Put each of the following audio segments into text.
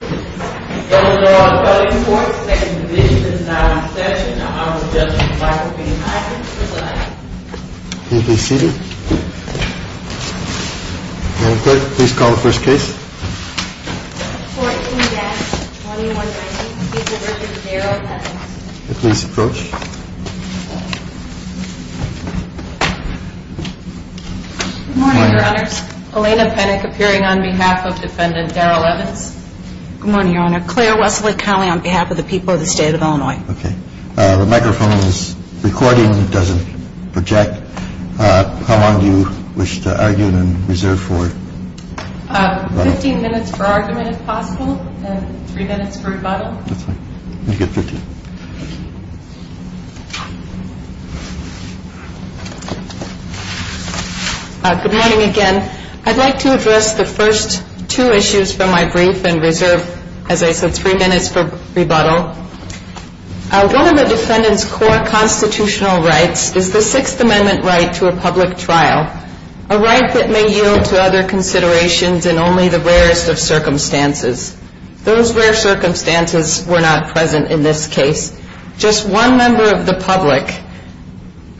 and this is not a session. I was just in the back of the meeting. Can you please call the first case? 14-2119. Please approach. Good morning, Your Honors. Elena Penick appearing on behalf of Defendant Daryl Evans. Good morning, Your Honor. Claire Wesley Conley on behalf of the people of the state of Illinois. Okay. The microphone is recording. It doesn't project. How long do you wish to argue and reserve for? Fifteen minutes for argument, if possible, and three minutes for rebuttal. Good morning, again. I'd like to address the first two issues from my brief and reserve, as I said, three minutes for rebuttal. One of the defendant's core constitutional rights is the Sixth Amendment right to a public trial, a right that may yield to other considerations in only the rarest of circumstances. In this case, just one member of the public,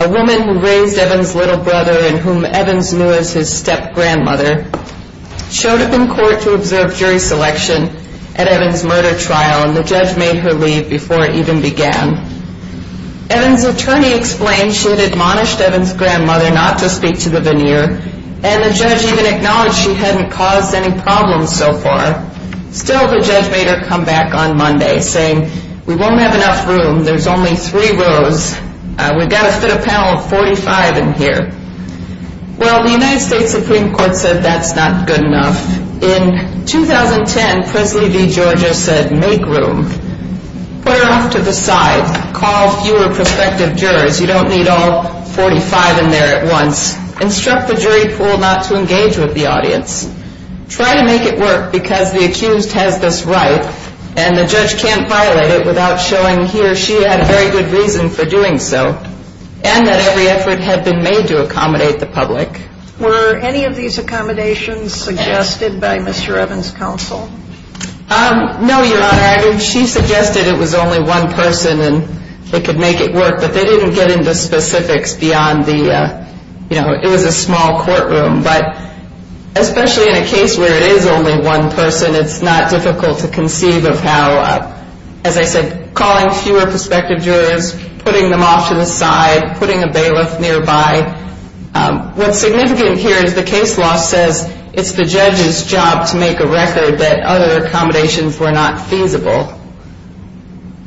a woman who raised Evans' little brother and whom Evans knew as his step-grandmother, showed up in court to observe jury selection at Evans' murder trial, and the judge made her leave before it even began. Evans' attorney explained she had admonished Evans' grandmother not to speak to the veneer, and the judge even acknowledged she hadn't caused any problems so far. Still, the judge made her come back on Monday, saying, We won't have enough room. There's only three rows. We've got to fit a panel of 45 in here. Well, the United States Supreme Court said that's not good enough. In 2010, Presley v. Georgia said, Make room. Put her off to the side. Call fewer prospective jurors. You don't need all 45 in there at once. Instruct the jury pool not to engage with the audience. Try to make it work, because the accused has this right, and the judge can't violate it without showing he or she had a very good reason for doing so, and that every effort had been made to accommodate the public. Were any of these accommodations suggested by Mr. Evans' counsel? No, Your Honor. I mean, she suggested it was only one person and they could make it work, but they didn't get into specifics beyond the, you know, it was a small courtroom. But especially in a case where it is only one person, it's not difficult to conceive of how, as I said, calling fewer prospective jurors, putting them off to the side, putting a bailiff nearby. What's significant here is the case law says it's the judge's job to make a record that other accommodations were not feasible.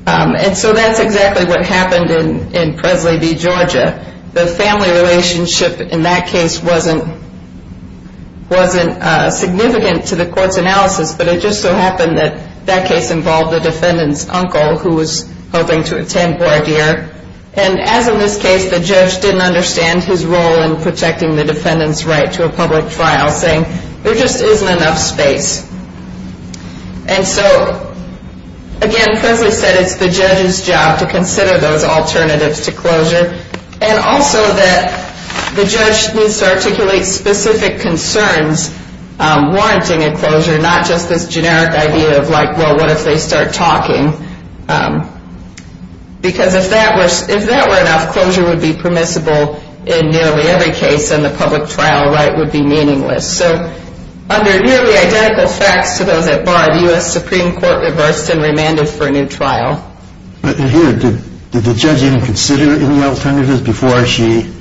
And so that's exactly what happened in Presley v. Georgia. The family relationship in that case wasn't significant to the court's analysis, but it just so happened that that case involved the defendant's uncle, who was hoping to attend voir dire. And as in this case, the judge didn't understand his role in protecting the defendant's right to a public trial, saying there just isn't enough space. And so again, Presley said it's the judge's job to consider those alternatives to closure and also that the judge needs to articulate specific concerns warranting a closure, not just this generic idea of, like, well, what if they start talking? Because if that were enough, closure would be permissible in nearly every case and the public trial right would be meaningless. So under nearly identical facts to those at voir, the U.S. Supreme Court reversed and remanded for a new trial. But here, did the judge even consider any alternatives before she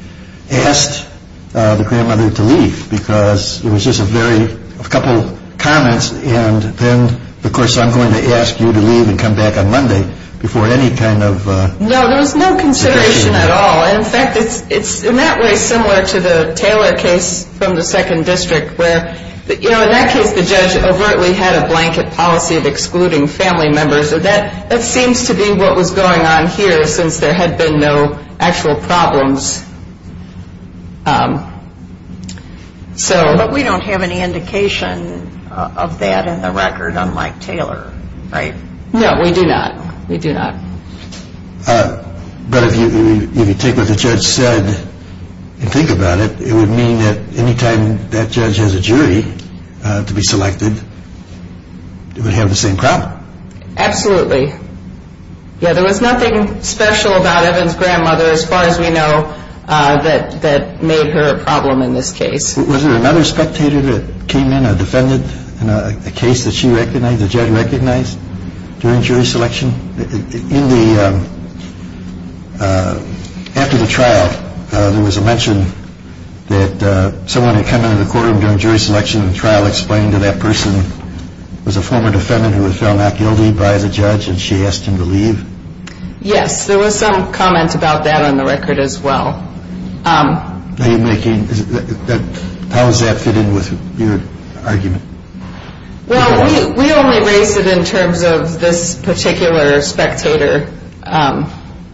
asked the grandmother to leave? Because it was just a very couple of comments and then, of course, I'm going to ask you to leave and come back on Monday before any kind of consideration. No, there was no consideration at all. In fact, it's in that way similar to the Taylor case from the second district where, you know, in that case the judge overtly had a blanket policy of excluding family members. That seems to be what was going on here since there had been no actual problems. But we don't have any indication of that in the record, unlike Taylor, right? No, we do not. We do not. But if you take what the judge said and think about it, it would mean that any time that judge has a jury to be selected, it would have the same problem. Absolutely. Yeah, there was nothing special about Evan's grandmother, as far as we know, that made her a problem in this case. Was there another spectator that came in, a defendant, a case that she recognized, that the judge recognized during jury selection? After the trial, there was a mention that someone had come into the courtroom during jury selection and the trial explained that that person was a former defendant who had fell not guilty by the judge and she asked him to leave. Yes, there was some comment about that on the record as well. How does that fit in with your argument? Well, we only raise it in terms of this particular spectator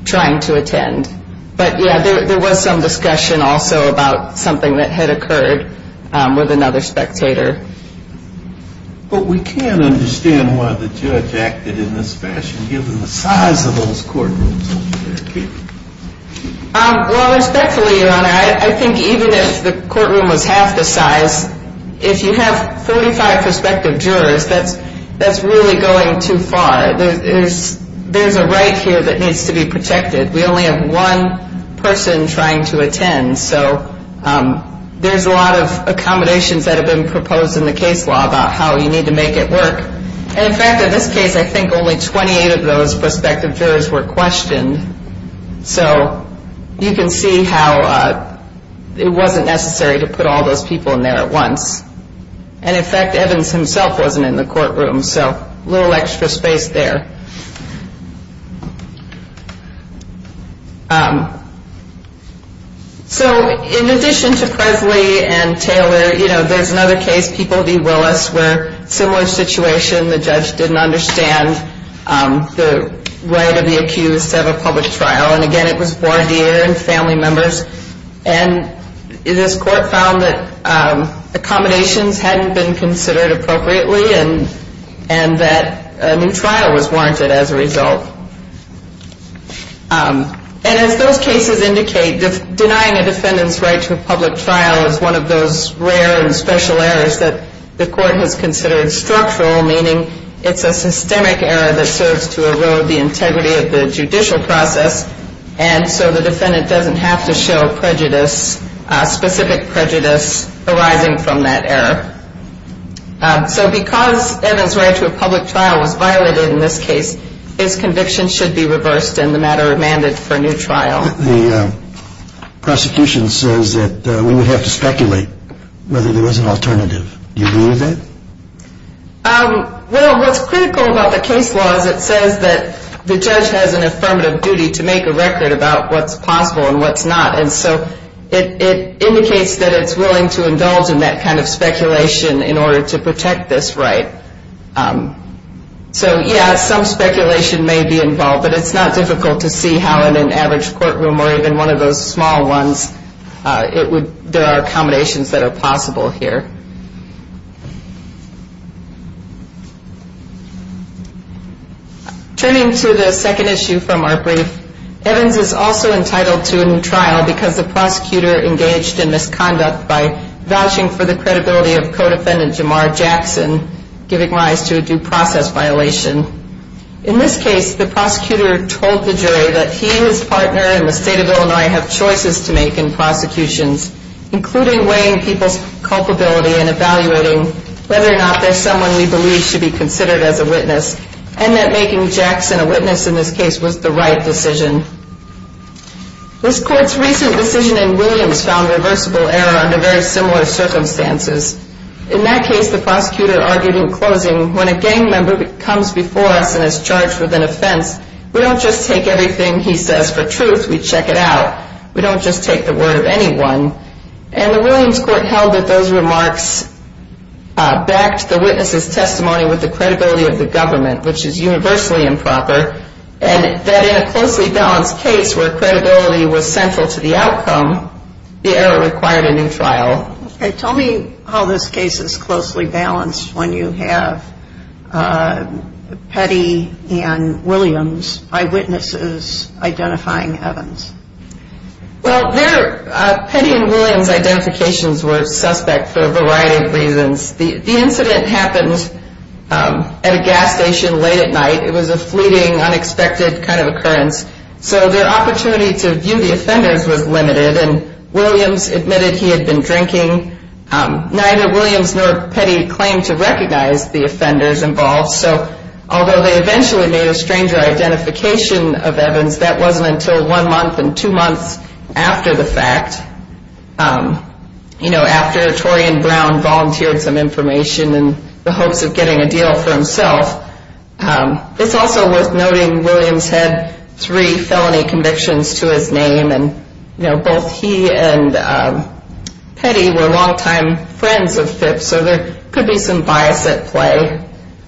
trying to attend. But, yeah, there was some discussion also about something that had occurred with another spectator. But we can't understand why the judge acted in this fashion, given the size of those courtrooms. Well, respectfully, Your Honor, I think even if the courtroom was half the size, if you have 35 prospective jurors, that's really going too far. There's a right here that needs to be protected. We only have one person trying to attend. So there's a lot of accommodations that have been proposed in the case law about how you need to make it work. And, in fact, in this case, I think only 28 of those prospective jurors were questioned. So you can see how it wasn't necessary to put all those people in there at once. And, in fact, Evans himself wasn't in the courtroom. So a little extra space there. So in addition to Presley and Taylor, you know, there's another case, People v. Willis, where a similar situation, the judge didn't understand the right of the accused to have a public trial. And, again, it was voir dire and family members. And this court found that accommodations hadn't been considered appropriately and that a new trial was warranted as a result. And as those cases indicate, denying a defendant's right to a public trial is one of those rare and special errors that the court has considered structural, meaning it's a systemic error that serves to erode the integrity of the judicial process. And so the defendant doesn't have to show prejudice, specific prejudice arising from that error. So because Evans' right to a public trial was violated in this case, his conviction should be reversed in the matter of mandate for a new trial. The prosecution says that we would have to speculate whether there was an alternative. Do you agree with that? Well, what's critical about the case law is it says that the judge has an affirmative duty to make a record about what's possible and what's not. And so it indicates that it's willing to indulge in that kind of speculation in order to protect this right. So, yeah, some speculation may be involved, but it's not difficult to see how in an average courtroom or even one of those small ones, there are accommodations that are possible here. Turning to the second issue from our brief, Evans is also entitled to a new trial because the prosecutor engaged in misconduct by vouching for the credibility of co-defendant Jamar Jackson, giving rise to a due process violation. In this case, the prosecutor told the jury that he and his partner in the state of Illinois have choices to make in prosecutions, including weighing people's culpability and evaluating whether or not there's someone we believe should be considered as a witness and that making Jackson a witness in this case was the right decision. This court's recent decision in Williams found reversible error under very similar circumstances. In that case, the prosecutor argued in closing, when a gang member comes before us and is charged with an offense, we don't just take everything he says for truth, we check it out. We don't just take the word of anyone. And the Williams court held that those remarks backed the witness's testimony with the credibility of the government, which is universally improper, and that in a closely balanced case where credibility was central to the outcome, the error required a new trial. Okay, tell me how this case is closely balanced when you have Petty and Williams' eyewitnesses identifying Evans. Well, Petty and Williams' identifications were suspect for a variety of reasons. The incident happened at a gas station late at night. It was a fleeting, unexpected kind of occurrence, so their opportunity to view the offenders was limited, and Williams admitted he had been drinking. Neither Williams nor Petty claimed to recognize the offenders involved, so although they eventually made a stranger identification of Evans, that wasn't until one month and two months after the fact, you know, after Torian Brown volunteered some information in the hopes of getting a deal for himself. It's also worth noting Williams had three felony convictions to his name, and, you know, both he and Petty were longtime friends of Phipps, so there could be some bias at play.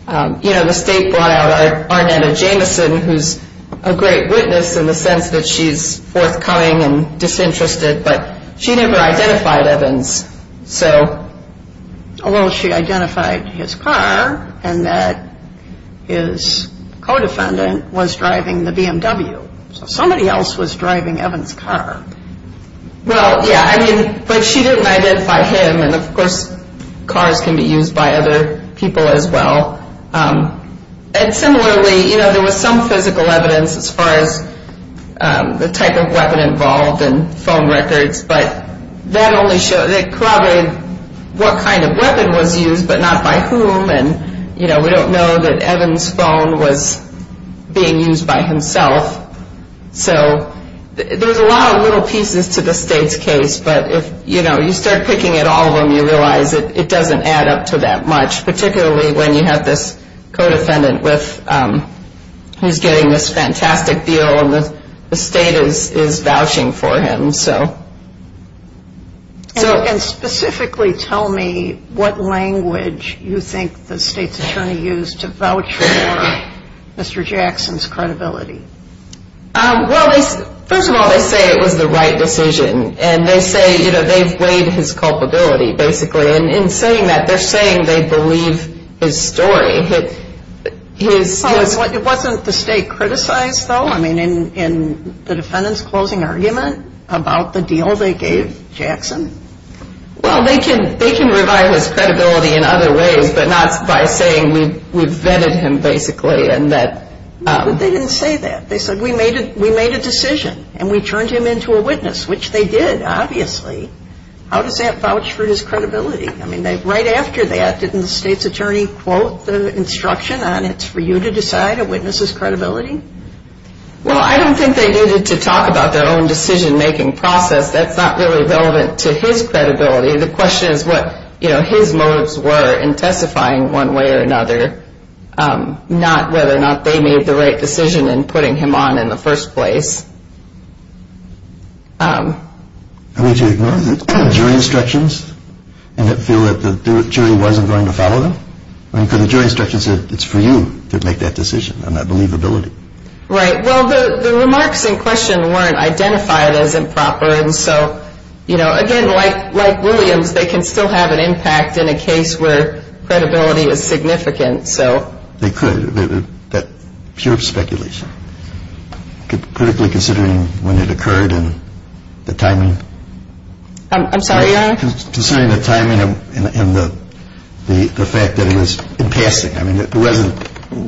You know, the state brought out Arnetta Jameson, who's a great witness in the sense that she's forthcoming and disinterested, but she never identified Evans, so. Well, she identified his car and that his co-defendant was driving the BMW, so somebody else was driving Evans' car. Well, yeah, I mean, but she didn't identify him, and, of course, cars can be used by other people as well. And similarly, you know, there was some physical evidence as far as the type of weapon involved and phone records, but that only showed, it corroborated what kind of weapon was used but not by whom, and, you know, we don't know that Evans' phone was being used by himself. So there's a lot of little pieces to the state's case, but if, you know, you start picking at all of them, you realize it doesn't add up to that much, particularly when you have this co-defendant with, who's getting this fantastic deal and the state is vouching for him, so. And specifically tell me what language you think the state's attorney used to vouch for Mr. Jackson's credibility. Well, first of all, they say it was the right decision, and they say, you know, they've weighed his culpability, basically, and in saying that, they're saying they believe his story. It wasn't the state criticized, though? I mean, in the defendant's closing argument about the deal they gave Jackson? Well, they can revive his credibility in other ways, but not by saying we vetted him, basically, and that. But they didn't say that. They said, we made a decision, and we turned him into a witness, which they did, obviously. How does that vouch for his credibility? I mean, right after that, didn't the state's attorney quote the instruction on it's for you to decide a witness's credibility? Well, I don't think they needed to talk about their own decision-making process. That's not really relevant to his credibility. The question is what his motives were in testifying one way or another, not whether or not they made the right decision in putting him on in the first place. Are we to ignore the jury instructions and feel that the jury wasn't going to follow them? I mean, because the jury instructions said it's for you to make that decision on that believability. Right. Well, the remarks in question weren't identified as improper, and so, you know, again, like Williams, they can still have an impact in a case where credibility is significant. They could, but pure speculation, critically considering when it occurred and the timing. I'm sorry, Your Honor? Considering the timing and the fact that it was in passing. I mean, it wasn't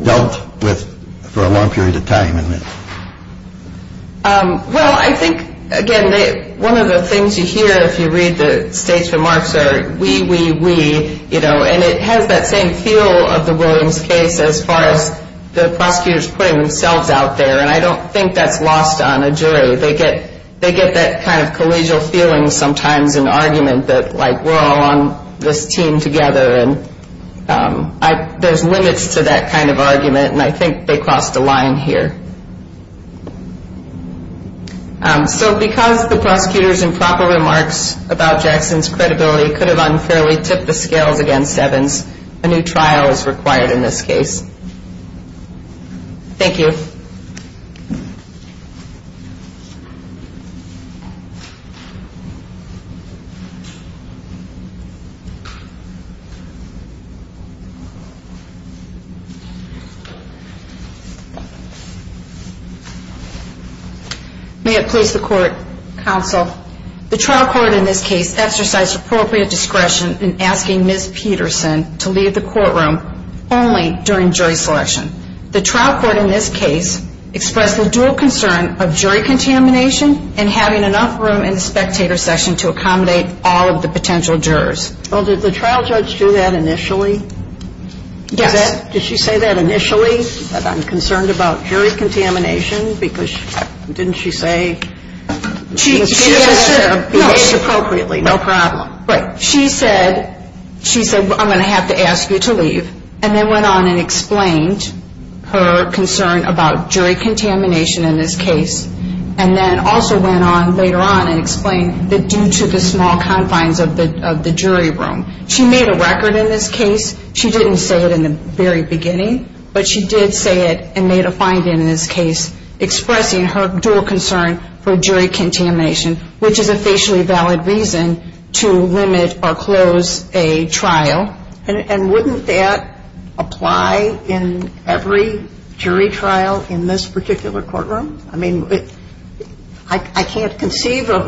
dealt with for a long period of time. Well, I think, again, one of the things you hear if you read the state's remarks are, we, we, we, you know, and it has that same feel of the Williams case as far as the prosecutors putting themselves out there, They get that kind of collegial feeling sometimes in argument that, like, we're all on this team together, and there's limits to that kind of argument, and I think they crossed a line here. So because the prosecutors' improper remarks about Jackson's credibility could have unfairly tipped the scales against Evans, a new trial is required in this case. Thank you. May it please the Court, Counsel. The trial court in this case exercised appropriate discretion in asking Ms. Peterson to leave the courtroom only during jury selection. The trial court in this case expressed the dual concern of jury contamination and having enough room in the spectator section to accommodate all of the potential jurors. Well, did the trial judge do that initially? Yes. Did she say that initially, that I'm concerned about jury contamination? Because didn't she say, She, yes, sir, behaved appropriately, no problem. Right. She said, she said, I'm going to have to ask you to leave, and then went on and explained her concern about jury contamination in this case, and then also went on later on and explained that due to the small confines of the jury room. She made a record in this case. She didn't say it in the very beginning, but she did say it and made a finding in this case expressing her dual concern for jury contamination, which is a facially valid reason to limit or close a trial. And wouldn't that apply in every jury trial in this particular courtroom? I mean, I can't conceive of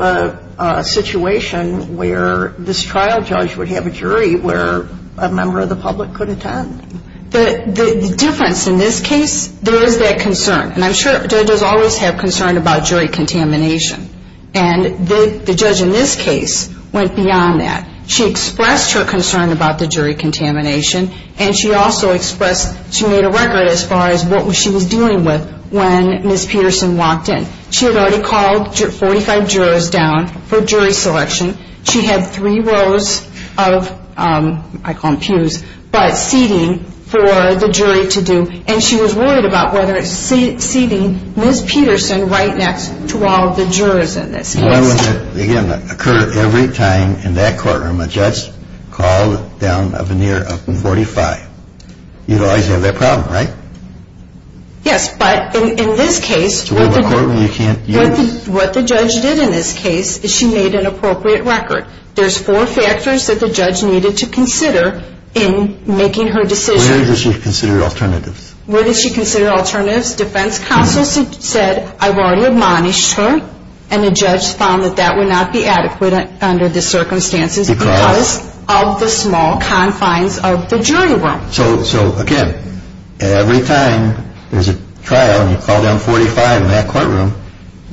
a situation where this trial judge would have a jury where a member of the public could attend. The difference in this case, there is that concern. And I'm sure judges always have concern about jury contamination. And the judge in this case went beyond that. She expressed her concern about the jury contamination, and she also expressed she made a record as far as what she was dealing with when Ms. Peterson walked in. She had already called 45 jurors down for jury selection. She had three rows of, I call them pews, but seating for the jury to do, and she was worried about whether it's seating Ms. Peterson right next to all of the jurors in this case. Why would it, again, occur every time in that courtroom a judge called down a veneer of 45? You'd always have that problem, right? Yes, but in this case, what the judge did in this case is she made an appropriate record. There's four factors that the judge needed to consider in making her decision. Where does she consider alternatives? Where does she consider alternatives? Defense counsel said, I've already admonished her, and the judge found that that would not be adequate under the circumstances because of the small confines of the jury room. So, again, every time there's a trial and you call down 45 in that courtroom,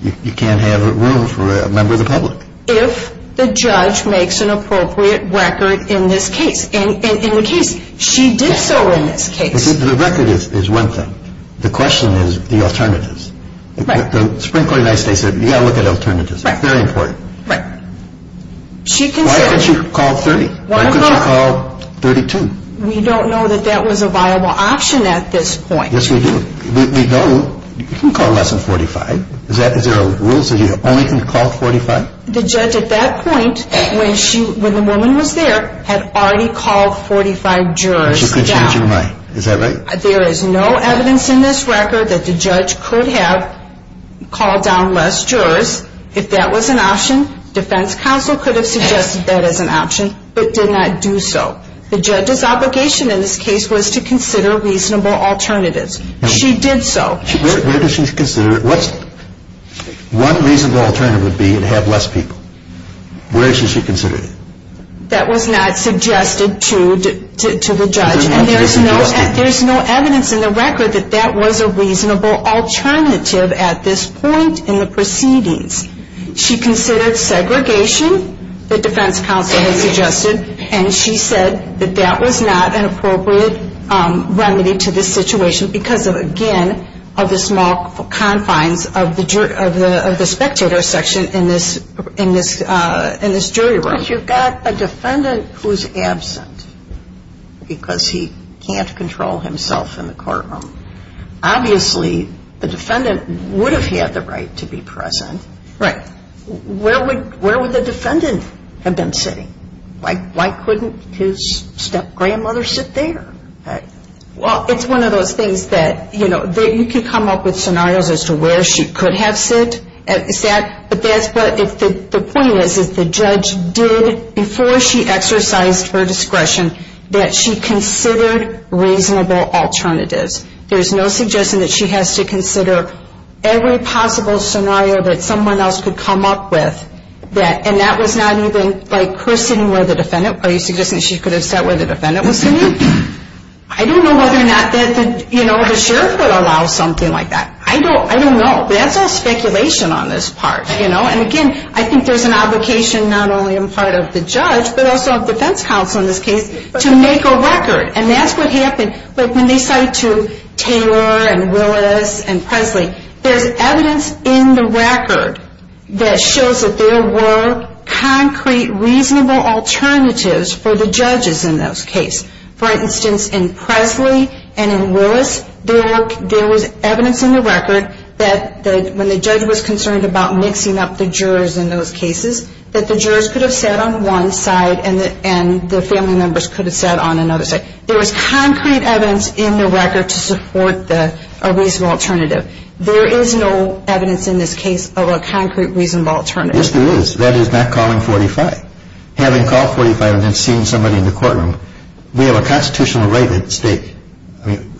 you can't have room for a member of the public. If the judge makes an appropriate record in this case. And in the case, she did so in this case. The record is one thing. The question is the alternatives. Right. The Supreme Court of the United States said, you've got to look at alternatives. Right. Very important. Right. Why couldn't she call 30? Why couldn't she call 32? We don't know that that was a viable option at this point. Yes, we do. We know you can call less than 45. Is there a rule that says you only can call 45? The judge at that point, when the woman was there, had already called 45 jurors down. She could change her mind. Is that right? There is no evidence in this record that the judge could have called down less jurors. If that was an option, defense counsel could have suggested that as an option, but did not do so. The judge's obligation in this case was to consider reasonable alternatives. She did so. Where does she consider it? One reasonable alternative would be to have less people. Where should she consider it? That was not suggested to the judge. There's no evidence in the record that that was a reasonable alternative at this point in the proceedings. And she said that that was not an appropriate remedy to this situation because, again, of the small confines of the spectator section in this jury room. But you've got a defendant who's absent because he can't control himself in the courtroom. Obviously, the defendant would have had the right to be present. Right. Where would the defendant have been sitting? Why couldn't his step-grandmother sit there? Well, it's one of those things that, you know, you could come up with scenarios as to where she could have sat. But the point is, is the judge did, before she exercised her discretion, that she considered reasonable alternatives. There's no suggestion that she has to consider every possible scenario that someone else could come up with. And that was not even, like, Chris sitting where the defendant, are you suggesting she could have sat where the defendant was sitting? I don't know whether or not the sheriff would allow something like that. I don't know. That's all speculation on this part. And, again, I think there's an obligation, not only on the part of the judge, but also of defense counsel in this case, to make a record. And that's what happened. Like, when they cited to Taylor and Willis and Presley, there's evidence in the record that shows that there were concrete, reasonable alternatives for the judges in those cases. For instance, in Presley and in Willis, there was evidence in the record that, when the judge was concerned about mixing up the jurors in those cases, that the jurors could have sat on one side and the family members could have sat on another side. There was concrete evidence in the record to support a reasonable alternative. There is no evidence in this case of a concrete, reasonable alternative. Yes, there is. That is not calling 45. Having called 45 and then seen somebody in the courtroom, we have a constitutional right at stake. I mean,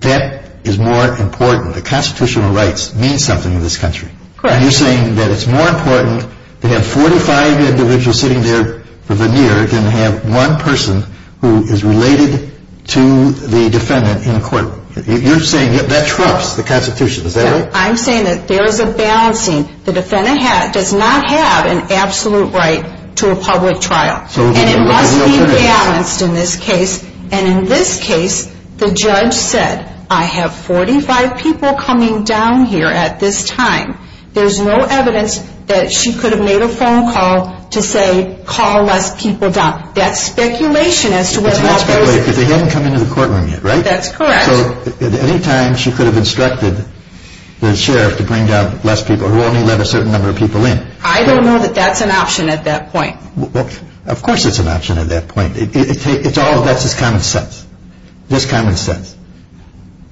that is more important. The constitutional rights mean something in this country. Correct. And you're saying that it's more important to have 45 individuals sitting there than to have one person who is related to the defendant in court. You're saying that that trumps the Constitution. Is that right? I'm saying that there is a balancing. The defendant does not have an absolute right to a public trial. And it must be balanced in this case. And in this case, the judge said, I have 45 people coming down here at this time. There's no evidence that she could have made a phone call to say, call less people down. That's speculation as to whether or not those... It's not speculation because they haven't come into the courtroom yet, right? That's correct. So at any time, she could have instructed the sheriff to bring down less people who only let a certain number of people in. I don't know that that's an option at that point. Of course it's an option at that point. That's just common sense. Just common sense.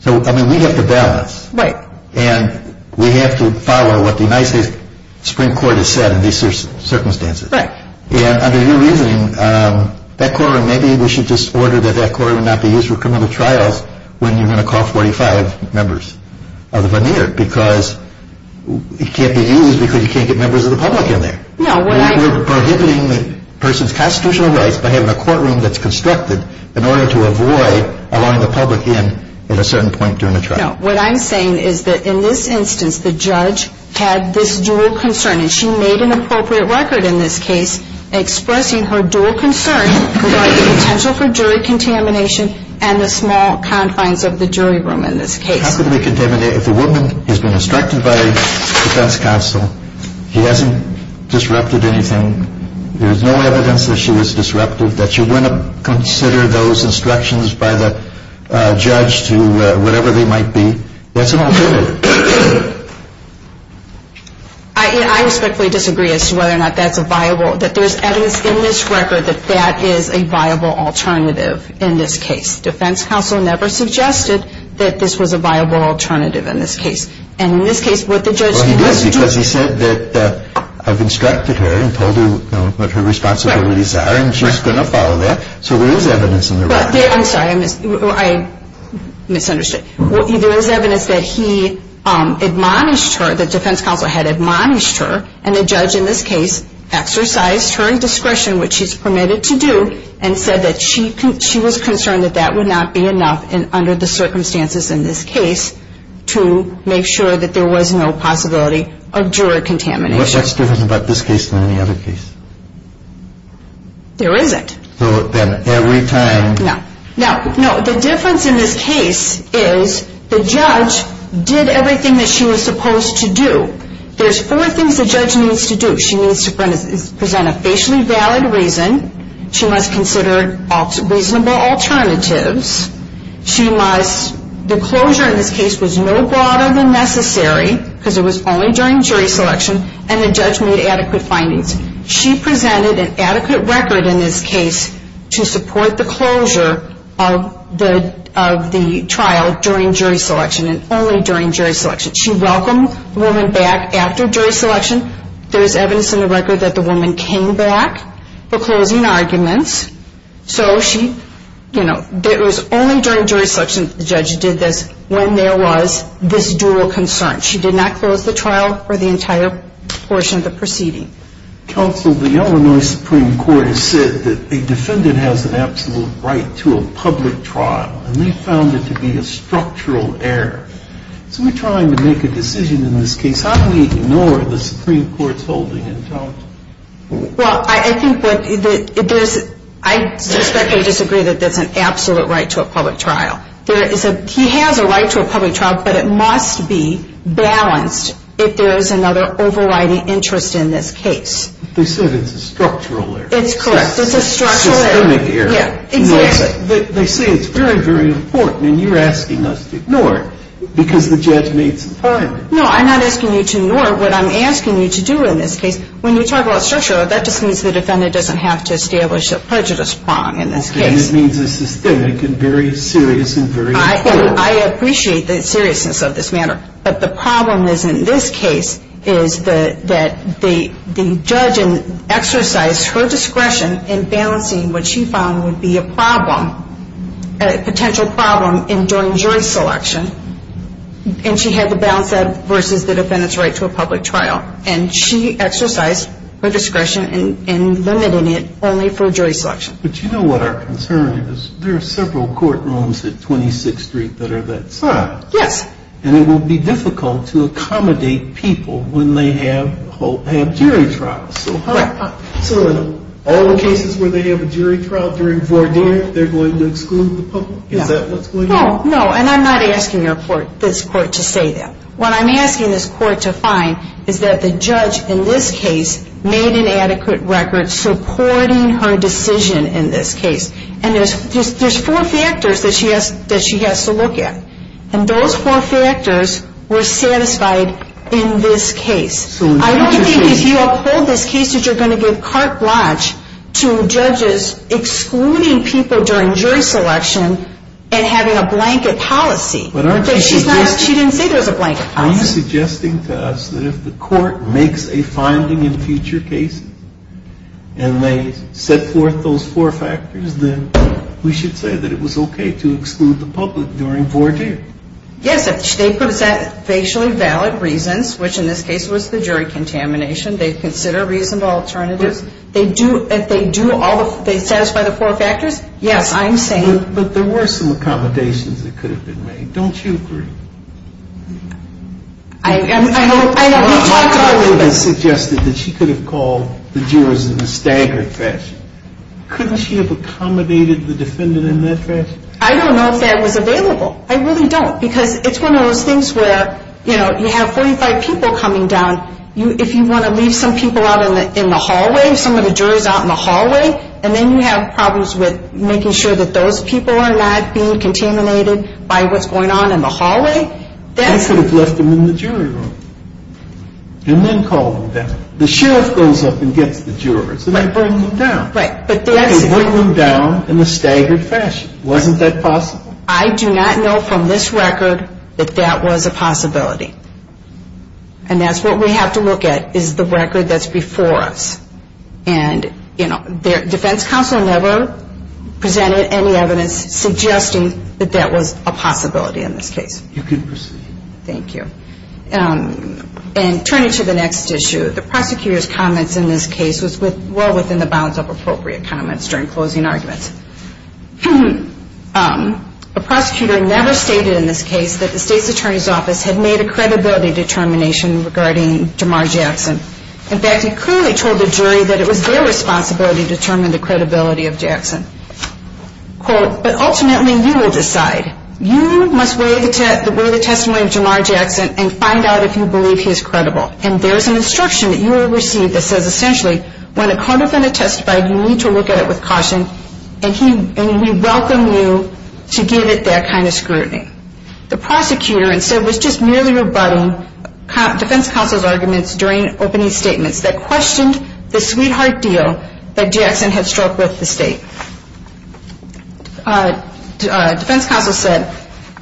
So, I mean, we have to balance. Right. And we have to follow what the United States Supreme Court has said in these circumstances. Right. And under your reasoning, that courtroom, maybe we should just order that that courtroom not be used for criminal trials when you're going to call 45 members of the veneer because it can't be used because you can't get members of the public in there. No, what I... We're prohibiting the person's constitutional rights by having a courtroom that's constructed in order to avoid allowing the public in at a certain point during the trial. No, what I'm saying is that in this instance, the judge had this dual concern, and she made an appropriate record in this case expressing her dual concern about the potential for jury contamination and the small confines of the jury room in this case. How could we contaminate... If a woman has been instructed by a defense counsel, he hasn't disrupted anything, there's no evidence that she was disrupted, that you wouldn't consider those instructions by the judge to whatever they might be. What's an alternative? I respectfully disagree as to whether or not that's a viable... that there's evidence in this record that that is a viable alternative in this case. Defense counsel never suggested that this was a viable alternative in this case. And in this case, what the judge... Well, he did because he said that I've instructed her and told her what her responsibilities are, and she's going to follow that. So there is evidence in the record. I'm sorry, I misunderstood. There is evidence that he admonished her, that defense counsel had admonished her, and the judge in this case exercised her discretion, which she's permitted to do, and said that she was concerned that that would not be enough under the circumstances in this case to make sure that there was no possibility of jury contamination. What's different about this case than any other case? There isn't. So then every time... No. No, the difference in this case is the judge did everything that she was supposed to do. There's four things the judge needs to do. She needs to present a facially valid reason. She must consider reasonable alternatives. She must... The closure in this case was no broader than necessary because it was only during jury selection, and the judge made adequate findings. She presented an adequate record in this case to support the closure of the trial during jury selection, and only during jury selection. She welcomed the woman back after jury selection. There is evidence in the record that the woman came back for closing arguments. So she... You know, it was only during jury selection that the judge did this when there was this dual concern. She did not close the trial for the entire portion of the proceeding. Counsel, the Illinois Supreme Court has said that a defendant has an absolute right to a public trial, and they found it to be a structural error. So we're trying to make a decision in this case. How do we ignore the Supreme Court's holding in town? Well, I think that there's... I suspect they disagree that there's an absolute right to a public trial. There is a... He has a right to a public trial, but it must be balanced if there is another overriding interest in this case. They said it's a structural error. It's correct. It's a structural error. It's a systemic error. Yeah, exactly. They say it's very, very important, and you're asking us to ignore it because the judge made some findings. No, I'm not asking you to ignore what I'm asking you to do in this case. When you talk about structural error, that just means the defendant doesn't have to establish a prejudice prong in this case. Okay, and it means it's systemic and very serious and very important. I appreciate the seriousness of this matter, but the problem is in this case is that the judge exercised her discretion in balancing what she found would be a problem, a potential problem during jury selection, and she had to balance that versus the defendant's right to a public trial, and she exercised her discretion in limiting it only for jury selection. But you know what our concern is? There are several courtrooms at 26th Street that are that size. Yes. And it will be difficult to accommodate people when they have jury trials. Correct. So in all the cases where they have a jury trial during 4-D, they're going to exclude the public? Is that what's going on? No, and I'm not asking this court to say that. What I'm asking this court to find is that the judge in this case made an adequate record supporting her decision in this case, and there's four factors that she has to look at, and those four factors were satisfied in this case. I don't think if you uphold this case that you're going to give carte blanche to judges excluding people during jury selection and having a blanket policy. But aren't you suggesting... She didn't say there was a blanket policy. Are you suggesting to us that if the court makes a finding in future cases and they set forth those four factors, then we should say that it was okay to exclude the public during 4-D? Yes, if they present facially valid reasons, which in this case was the jury contamination, they consider reasonable alternatives, if they satisfy the four factors, yes, I'm saying... But there were some accommodations that could have been made. Don't you agree? I know. You suggested that she could have called the jurors in a staggered fashion. Couldn't she have accommodated the defendant in that fashion? I don't know if that was available. I really don't, because it's one of those things where, you know, you have 45 people coming down. If you want to leave some people out in the hallway, some of the jurors out in the hallway, and then you have problems with making sure that those people are not being contaminated by what's going on in the hallway, that's... And then call them down. The sheriff goes up and gets the jurors, and they bring them down. They bring them down in a staggered fashion. Wasn't that possible? I do not know from this record that that was a possibility. And that's what we have to look at, is the record that's before us. And, you know, the defense counsel never presented any evidence suggesting that that was a possibility in this case. You can proceed. Thank you. And turning to the next issue, the prosecutor's comments in this case was well within the bounds of appropriate comments during closing arguments. A prosecutor never stated in this case that the state's attorney's office had made a credibility determination regarding Jamar Jackson. In fact, he clearly told the jury that it was their responsibility to determine the credibility of Jackson. Quote, but ultimately you will decide. You must weigh the testimony of Jamar Jackson and find out if you believe he is credible. And there is an instruction that you will receive that says, essentially, when a code offender testifies, you need to look at it with caution, and we welcome you to give it that kind of scrutiny. The prosecutor, instead, was just merely rebutting defense counsel's arguments during opening statements that questioned the sweetheart deal that Jackson had struck with the state. Defense counsel said,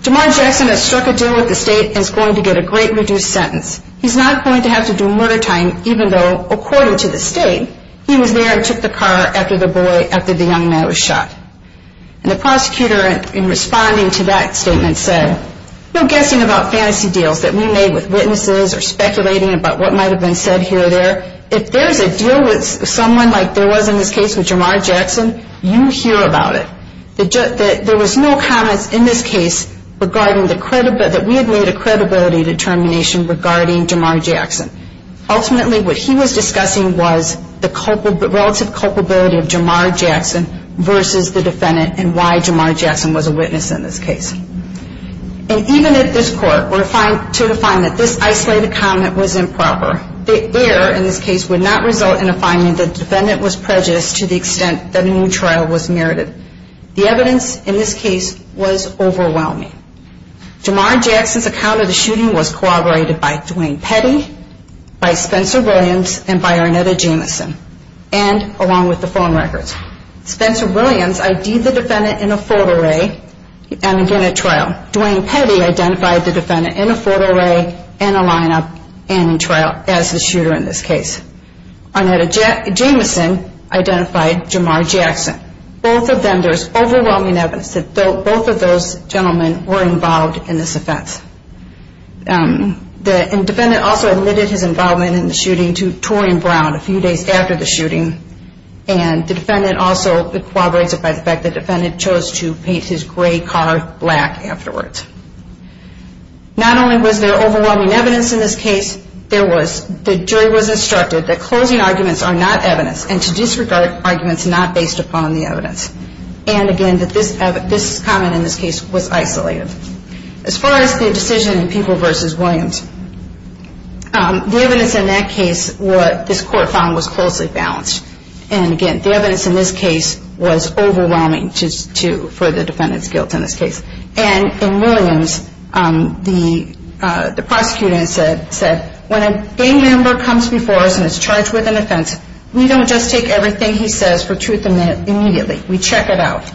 Jamar Jackson has struck a deal with the state and is going to get a great reduced sentence. He's not going to have to do murder time, even though, according to the state, he was there and took the car after the young man was shot. And the prosecutor, in responding to that statement, said, no guessing about fantasy deals that we made with witnesses or speculating about what might have been said here or there. If there is a deal with someone like there was in this case with Jamar Jackson, you hear about it. There was no comments in this case that we had made a credibility determination regarding Jamar Jackson. Ultimately, what he was discussing was the relative culpability of Jamar Jackson versus the defendant and why Jamar Jackson was a witness in this case. And even if this court were to define that this isolated comment was improper, the error in this case would not result in a finding that the defendant was prejudiced to the extent that a new trial was merited. The evidence in this case was overwhelming. Jamar Jackson's account of the shooting was corroborated by Duane Petty, by Spencer Williams, and by Arnetta Jamison, and along with the phone records. Spencer Williams ID'd the defendant in a photo array and again at trial. Duane Petty identified the defendant in a photo array and a lineup and in trial as the shooter in this case. Arnetta Jamison identified Jamar Jackson. Both of them, there's overwhelming evidence that both of those gentlemen were involved in this offense. The defendant also admitted his involvement in the shooting to Torian Brown a few days after the shooting and the defendant also corroborates it by the fact that the defendant chose to paint his gray car black afterwards. Not only was there overwhelming evidence in this case, there was, the jury was instructed that closing arguments are not evidence and to disregard arguments not based upon the evidence. And again, that this comment in this case was isolated. As far as the decision in People v. Williams, the evidence in that case, what this court found was closely balanced. And again, the evidence in this case was overwhelming for the defendant's guilt in this case. And in Williams, the prosecutor said, when a gang member comes before us and is charged with an offense, we don't just take everything he says for truth immediately. We check it out.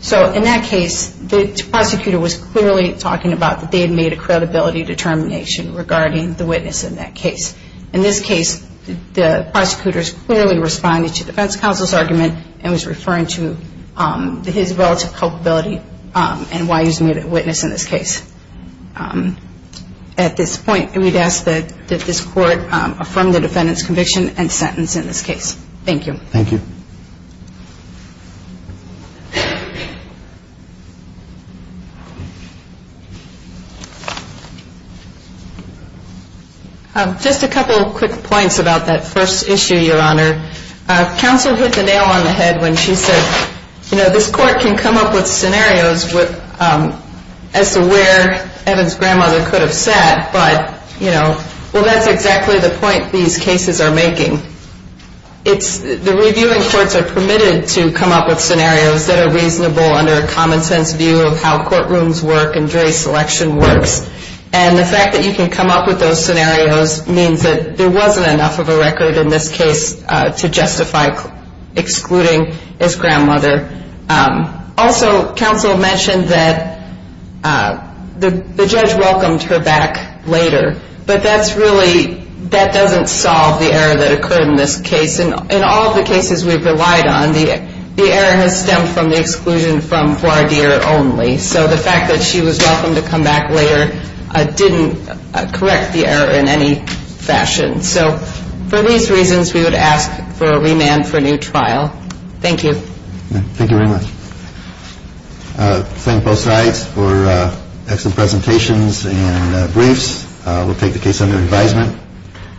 So in that case, the prosecutor was clearly talking about that they had made a credibility determination regarding the witness in that case. In this case, the prosecutors clearly responded to defense counsel's argument and was referring to his relative culpability and why he was a witness in this case. At this point, we'd ask that this court affirm the defendant's conviction and sentence in this case. Thank you. Thank you. Just a couple quick points about that first issue, Your Honor. Counsel hit the nail on the head when she said, you know, this court can come up with scenarios as to where Evan's grandmother could have sat, but, you know, well, that's exactly the point these cases are making. The reviewing courts are permitted to come up with scenarios that are reasonable under a common-sense view of how courtrooms work and jury selection works. And the fact that you can come up with those scenarios means that there wasn't enough of a record in this case to justify excluding his grandmother. Also, counsel mentioned that the judge welcomed her back later, but that's really... that doesn't solve the error that occurred in this case. In all of the cases we've relied on, the error has stemmed from the exclusion from voir dire only. So the fact that she was welcomed to come back later didn't correct the error in any fashion. So for these reasons, we would ask for a remand for new trial. Thank you. Thank you very much. Thank both sides for excellent presentations and briefs. We'll take the case under advisement,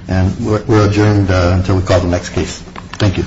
and we're adjourned until we call the next case. Thank you.